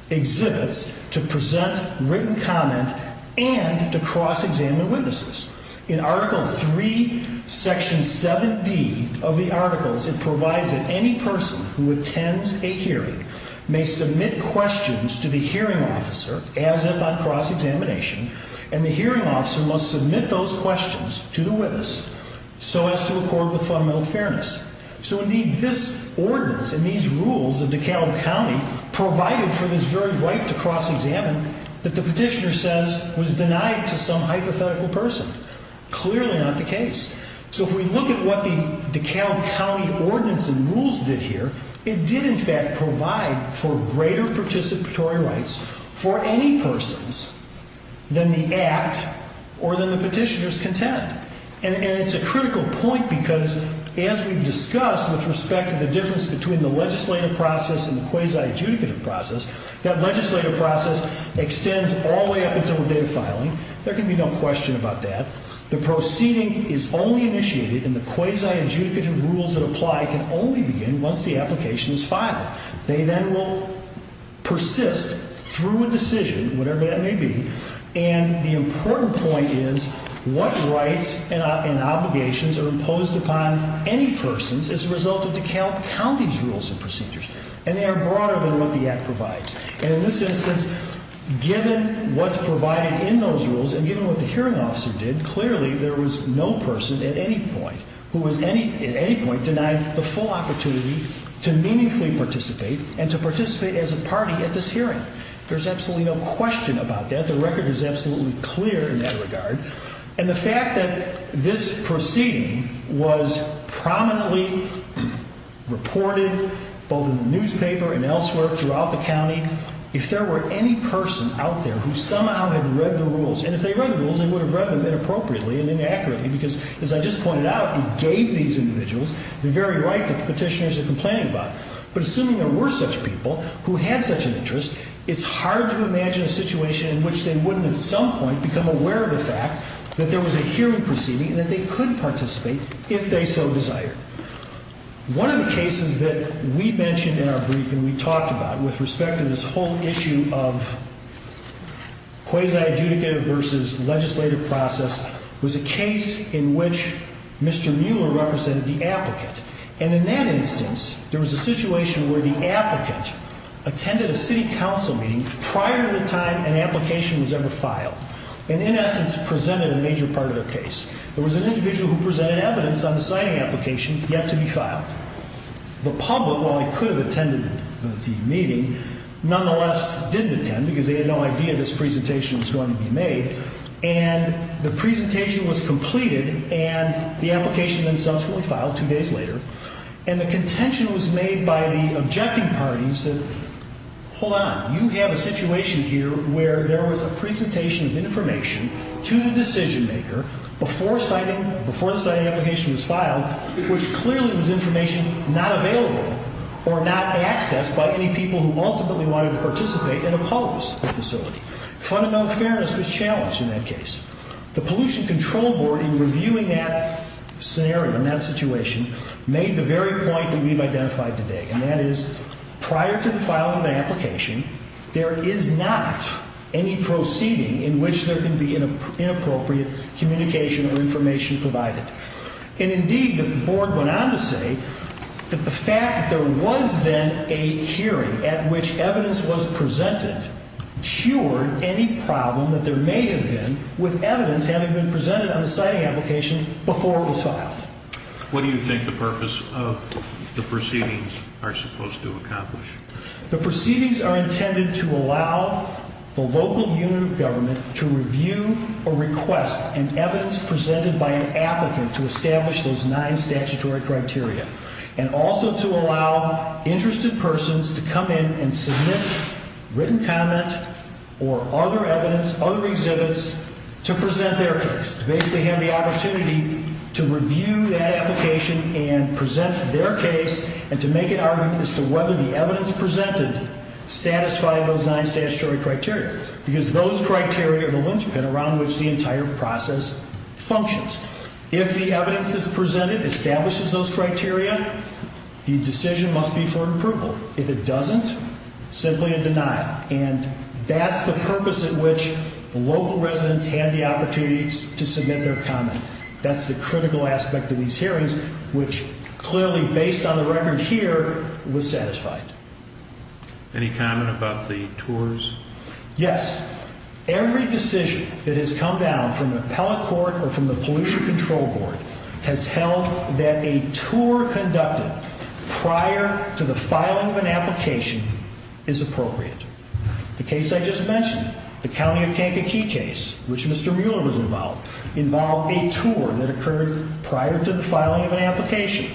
exhibits, to present written comment, and to cross-examine witnesses. In Article III, Section 7D of the Articles, it provides that any person who attends a hearing may submit questions to the hearing officer as if on cross-examination, and the hearing officer must submit those questions to the witness so as to accord with fundamental fairness. So, indeed, this ordinance and these rules of DeKalb County provided for this very right to cross-examine that the petitioner says was denied to some hypothetical person. Clearly not the case. So if we look at what the DeKalb County ordinance and rules did here, it did, in fact, provide for greater participatory rights for any persons than the act or than the petitioner's content. And it's a critical point because, as we've discussed with respect to the difference between the legislative process and the quasi-adjudicative process, that legislative process extends all the way up until the day of filing. There can be no question about that. The proceeding is only initiated, and the quasi-adjudicative rules that apply can only begin once the application is filed. They then will persist through a decision, whatever that may be, and the important point is what rights and obligations are imposed upon any persons as a result of DeKalb County's rules and procedures, and they are broader than what the act provides. And in this instance, given what's provided in those rules and given what the hearing officer did, clearly there was no person at any point who was at any point denied the full opportunity to meaningfully participate and to participate as a party at this hearing. There's absolutely no question about that. The record is absolutely clear in that regard. And the fact that this proceeding was prominently reported both in the newspaper and elsewhere throughout the county, if there were any person out there who somehow had read the rules, and if they read the rules, they would have read them inappropriately and inaccurately because, as I just pointed out, it gave these individuals the very right that the petitioners are complaining about. But assuming there were such people who had such an interest, it's hard to imagine a situation in which they wouldn't at some point become aware of the fact that there was a hearing proceeding and that they could participate if they so desired. One of the cases that we mentioned in our briefing, we talked about, with respect to this whole issue of quasi-adjudicative versus legislative process, was a case in which Mr. Mueller represented the applicant. And in that instance, there was a situation where the applicant attended a city council meeting prior to the time an application was ever filed and, in essence, presented a major part of their case. There was an individual who presented evidence on the signing application yet to be filed. The public, while they could have attended the meeting, nonetheless didn't attend because they had no idea this presentation was going to be made. And the presentation was completed, and the application then subsequently filed two days later, and the contention was made by the objecting parties that, hold on, you have a situation here where there was a presentation of information to the decision-maker before the signing application was filed, which clearly was information not available or not accessed by any people who ultimately wanted to participate and oppose the facility. Fundamental fairness was challenged in that case. The Pollution Control Board, in reviewing that scenario, that situation, made the very point that we've identified today, and that is, prior to the filing of the application, there is not any proceeding in which there can be inappropriate communication or information provided. And, indeed, the Board went on to say that the fact that there was then a hearing at which evidence was presented cured any problem that there may have been with evidence having been presented on the signing application before it was filed. What do you think the purpose of the proceedings are supposed to accomplish? The proceedings are intended to allow the local unit of government to review or request an evidence presented by an applicant to establish those nine statutory criteria, and also to allow interested persons to come in and submit written comment or other evidence, other exhibits, to present their case, to basically have the opportunity to review that application and present their case and to make an argument as to whether the evidence presented satisfied those nine statutory criteria, because those criteria are the linchpin around which the entire process functions. If the evidence that's presented establishes those criteria, the decision must be for approval. If it doesn't, simply a denial. And that's the purpose at which local residents had the opportunity to submit their comment. That's the critical aspect of these hearings, which clearly, based on the record here, was satisfied. Any comment about the tours? Yes. Every decision that has come down from appellate court or from the Pollution Control Board has held that a tour conducted prior to the filing of an application is appropriate. The case I just mentioned, the County of Kankakee case, which Mr. Mueller was involved, involved a tour that occurred prior to the filing of an application.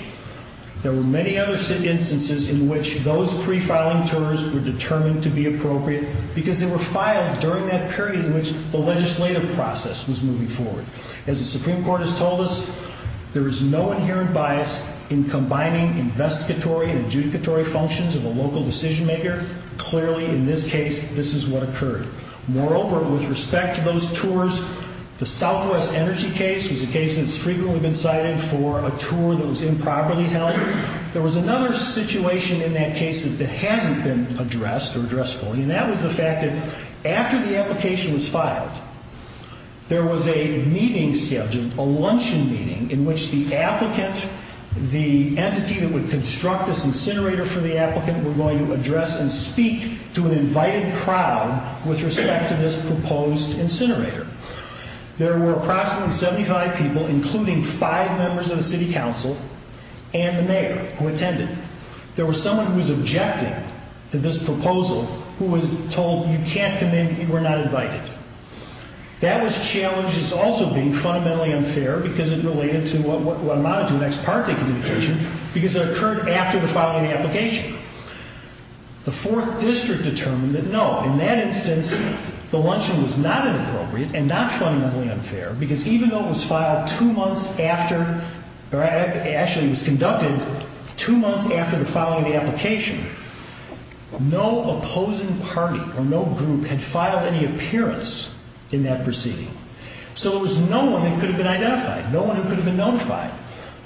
There were many other instances in which those pre-filing tours were determined to be appropriate because they were filed during that period in which the legislative process was moving forward. As the Supreme Court has told us, there is no inherent bias in combining investigatory and adjudicatory functions of a local decision-maker. Clearly, in this case, this is what occurred. Moreover, with respect to those tours, the Southwest Energy case was a case that's frequently been cited for a tour that was improperly held. There was another situation in that case that hasn't been addressed or addressed fully, and that was the fact that after the application was filed, there was a meeting scheduled, a luncheon meeting, in which the applicant, the entity that would construct this incinerator for the applicant, were going to address and speak to an invited crowd with respect to this proposed incinerator. There were approximately 75 people, including five members of the city council and the mayor who attended. There was someone who was objecting to this proposal who was told, you can't come in, you were not invited. That was challenged as also being fundamentally unfair because it related to what amounted to an ex parte communication because it occurred after the filing of the application. The fourth district determined that no, in that instance, the luncheon was not inappropriate and not fundamentally unfair because even though it was filed two months after, or actually it was conducted two months after the filing of the application, no opposing party or no group had filed any appearance in that proceeding. So there was no one that could have been identified, no one who could have been notified.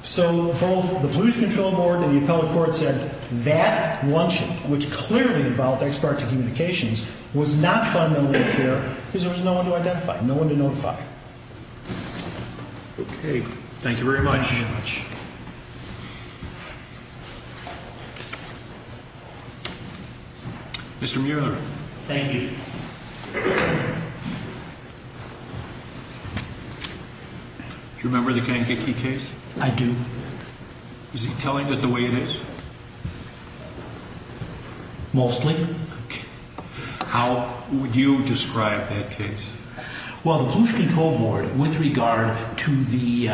So both the Blues Control Board and the appellate court said that luncheon, which clearly involved ex parte communications, was not fundamentally unfair because there was no one to identify, no one to notify. Okay. Thank you very much. Mr. Mueller. Thank you. Do you remember the Kankakee case? I do. Is he telling it the way it is? Mostly. How would you describe that case? Well, the Blues Control Board, with regard to the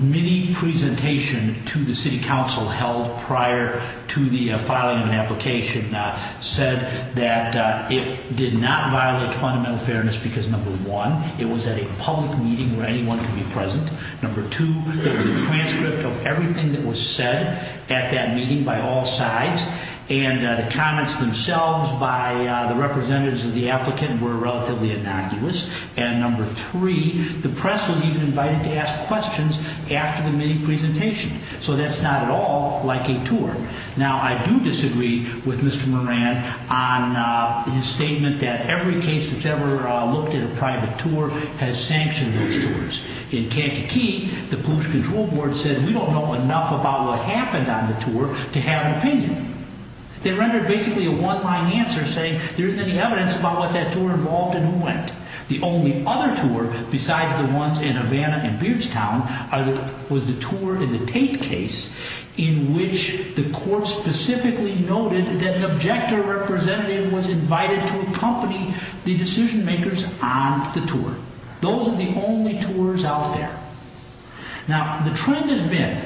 mini-presentation to the city council held prior to the filing of an application, said that it did not violate fundamental fairness because number one, it was at a public meeting where anyone could be present. Number two, there was a transcript of everything that was said at that meeting by all sides and the comments themselves by the representatives of the applicant were relatively innocuous. And number three, the press was even invited to ask questions after the mini-presentation. So that's not at all like a tour. Now, I do disagree with Mr. Moran on his statement that every case that's ever looked at a private tour has sanctioned those tours. In Kankakee, the Blues Control Board said, we don't know enough about what happened on the tour to have an opinion. They rendered basically a one-line answer saying, there isn't any evidence about what that tour involved and who went. The only other tour, besides the ones in Havana and Beardstown, was the tour in the Tate case in which the court specifically noted that an objector representative was invited to accompany the decision-makers on the tour. Those are the only tours out there. Now, the trend has been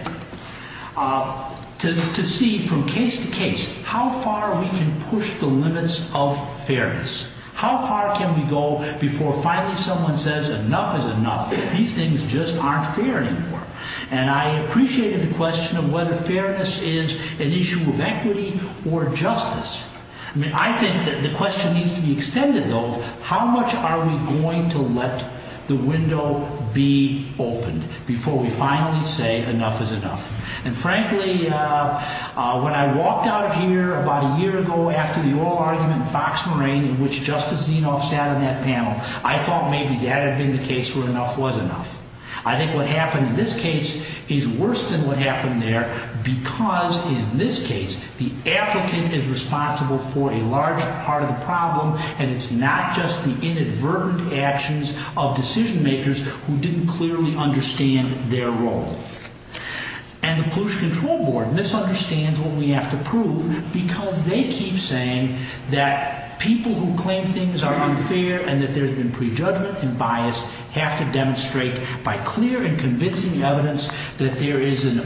to see from case to case how far we can push the limits of fairness. How far can we go before finally someone says, enough is enough, these things just aren't fair anymore. And I appreciated the question of whether fairness is an issue of equity or justice. I mean, I think that the question needs to be extended, though, how much are we going to let the window be opened before we finally say enough is enough. And frankly, when I walked out of here about a year ago after the oral argument in Fox Marine in which Justice Zinoff sat on that panel, I thought maybe that had been the case where enough was enough. I think what happened in this case is worse than what happened there because, in this case, the applicant is responsible for a large part of the problem and it's not just the inadvertent actions of decision-makers who didn't clearly understand their role. And the Pollution Control Board misunderstands what we have to prove because they keep saying that people who claim things are unfair and that there's been prejudgment and bias have to demonstrate by clear and convincing evidence that there is an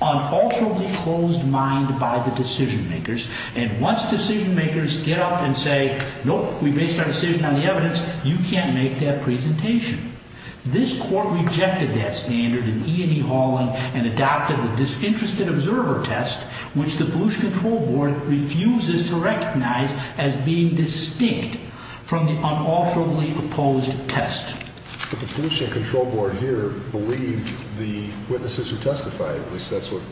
unalterably closed mind by the decision-makers. And once decision-makers get up and say, nope, we based our decision on the evidence, you can't make that presentation. This court rejected that standard in E&E Hauling and adopted the disinterested observer test, which the Pollution Control Board refuses to recognize as being distinct from the unalterably opposed test. But the Pollution Control Board here believed the witnesses who testified, at least that's what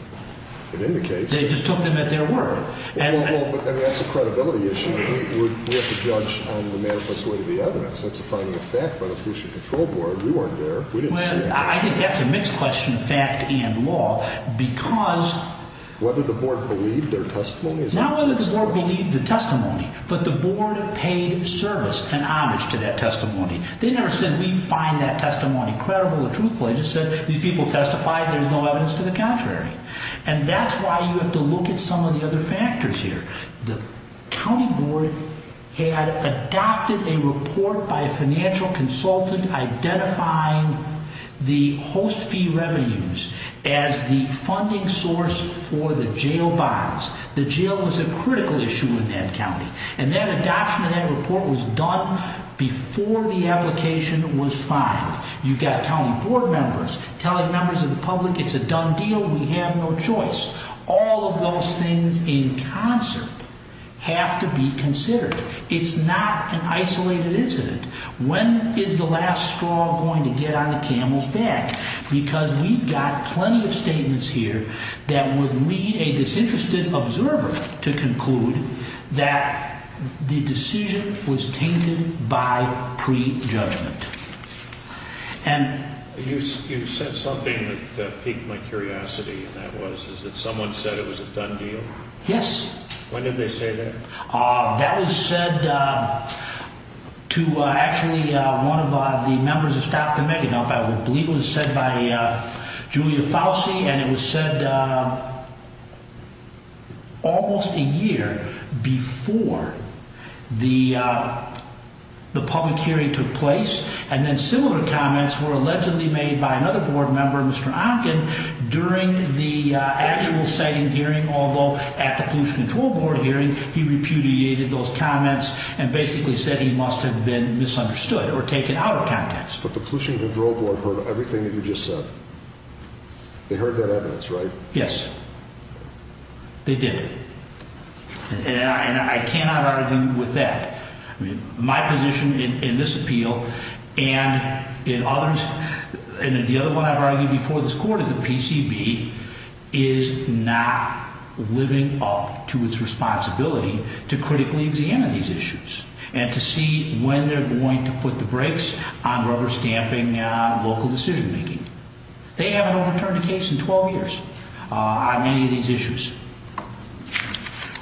it indicates. They just took them at their word. Well, but that's a credibility issue. We have to judge on the manifest way of the evidence. That's a finding of fact by the Pollution Control Board. We weren't there. We didn't see it. Well, I think that's a mixed question, fact and law, because... Whether the board believed their testimony? Not whether the board believed the testimony, but the board paid service and homage to that testimony. They never said, we find that testimony credible or truthful. They just said, these people testified. There's no evidence to the contrary. And that's why you have to look at some of the other factors here. The county board had adopted a report by a financial consultant identifying the host fee revenues as the funding source for the jail bonds. The jail was a critical issue in that county. And that adoption of that report was done before the application was filed. You've got county board members telling members of the public, it's a done deal. We have no choice. All of those things in concert have to be considered. It's not an isolated incident. When is the last straw going to get on the camel's back? Because we've got plenty of statements here that would lead a disinterested observer to conclude that the decision was tainted by prejudgment. You said something that piqued my curiosity. Someone said it was a done deal? Yes. When did they say that? That was said to actually one of the members of staff at the Megadon. I believe it was said by Julia Fauci. And it was said almost a year before the public hearing took place. And then similar comments were allegedly made by another board member, Mr. Onken, during the actual siting hearing. Although at the Pollution Control Board hearing, he repudiated those comments and basically said he must have been misunderstood or taken out of context. But the Pollution Control Board heard everything that you just said. They heard that evidence, right? Yes. They did. And I cannot argue with that. My position in this appeal and in others, and the other one I've argued before this court is the PCB is not living up to its responsibility to critically examine these issues and to see when they're going to put the brakes on rubber stamping local decision making. They haven't overturned a case in 12 years on any of these issues.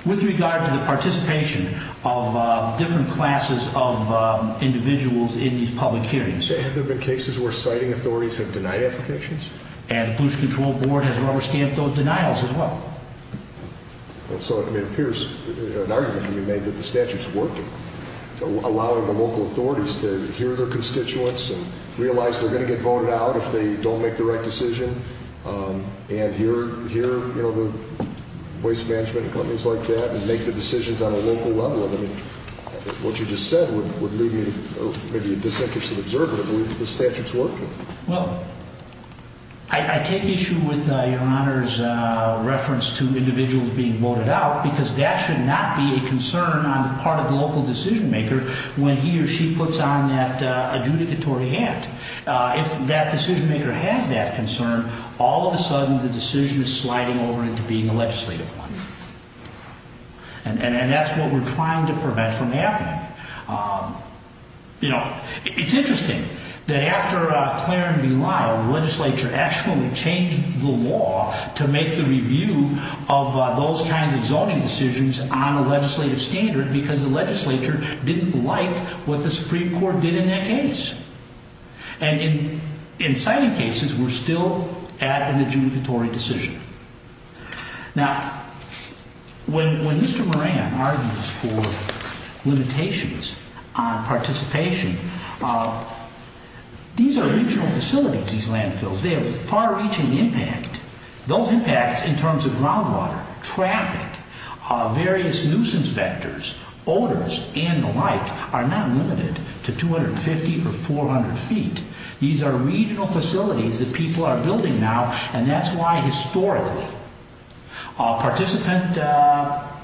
With regard to the participation of different classes of individuals in these public hearings. Have there been cases where siting authorities have denied applications? And the Pollution Control Board has rubber stamped those denials as well. So it appears an argument can be made that the statute's working. Allowing the local authorities to hear their constituents and realize they're going to get voted out if they don't make the right decision. And hear the waste management companies like that and make the decisions on a local level. What you just said would leave me maybe a disinterested observer to believe that the statute's working. Well, I take issue with your Honor's reference to individuals being voted out. Because that should not be a concern on the part of the local decision maker when he or she puts on that adjudicatory hat. If that decision maker has that concern, all of a sudden the decision is sliding over into being a legislative one. And that's what we're trying to prevent from happening. It's interesting that after Clarence B. Lyle, the legislature actually changed the law to make the review of those kinds of zoning decisions on a legislative standard. Because the legislature didn't like what the Supreme Court did in that case. And in citing cases, we're still at an adjudicatory decision. Now, when Mr. Moran argues for limitations on participation, these are regional facilities, these landfills. They have far-reaching impact. Those impacts in terms of groundwater, traffic, various nuisance vectors, odors, and the like, are not limited to 250 or 400 feet. These are regional facilities that people are building now. And that's why, historically,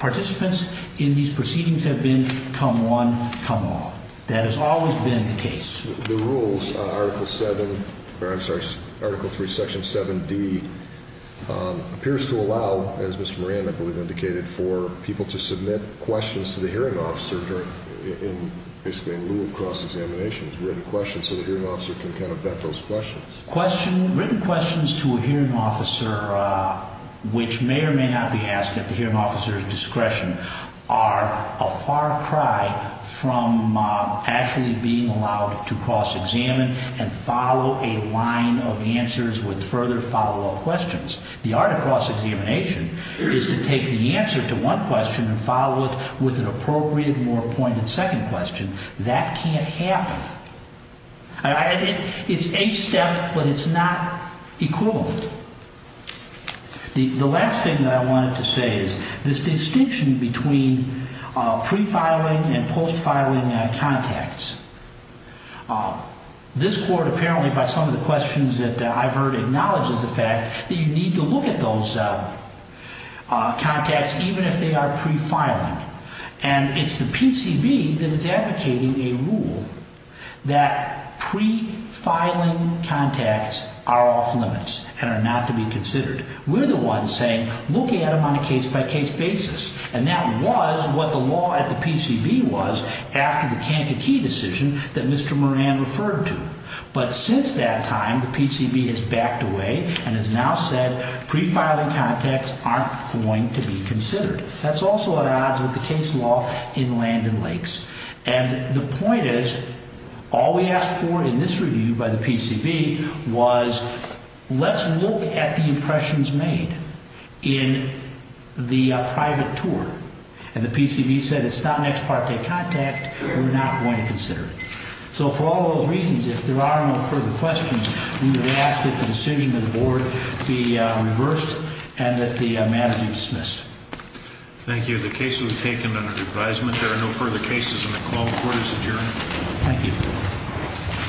participants in these proceedings have been come one, come all. That has always been the case. The rules, Article 3, Section 7D, appears to allow, as Mr. Moran, I believe, indicated, for people to submit questions to the hearing officer in lieu of cross-examination. Written questions so the hearing officer can kind of vet those questions. Written questions to a hearing officer, which may or may not be asked at the hearing officer's discretion, are a far cry from actually being allowed to cross-examine and follow a line of answers with further follow-up questions. The art of cross-examination is to take the answer to one question and follow it with an appropriate, more pointed second question. That can't happen. It's a step, but it's not equivalent. The last thing that I wanted to say is this distinction between pre-filing and post-filing contacts. This Court, apparently, by some of the questions that I've heard, acknowledges the fact that you need to look at those contacts, even if they are pre-filing. And it's the PCB that is advocating a rule that pre-filing contacts are off-limits and are not to be considered. We're the ones saying, look at them on a case-by-case basis. And that was what the law at the PCB was after the Kankakee decision that Mr. Moran referred to. But since that time, the PCB has backed away and has now said pre-filing contacts aren't going to be considered. That's also at odds with the case law in Land and Lakes. And the point is, all we asked for in this review by the PCB was, let's look at the impressions made in the private tour. And the PCB said it's not an ex parte contact. We're not going to consider it. So for all those reasons, if there are no further questions, I'm going to ask that the decision of the Board be reversed and that the matter be dismissed. Thank you. The case was taken under advisement. There are no further cases in the call. The Court is adjourned. Thank you.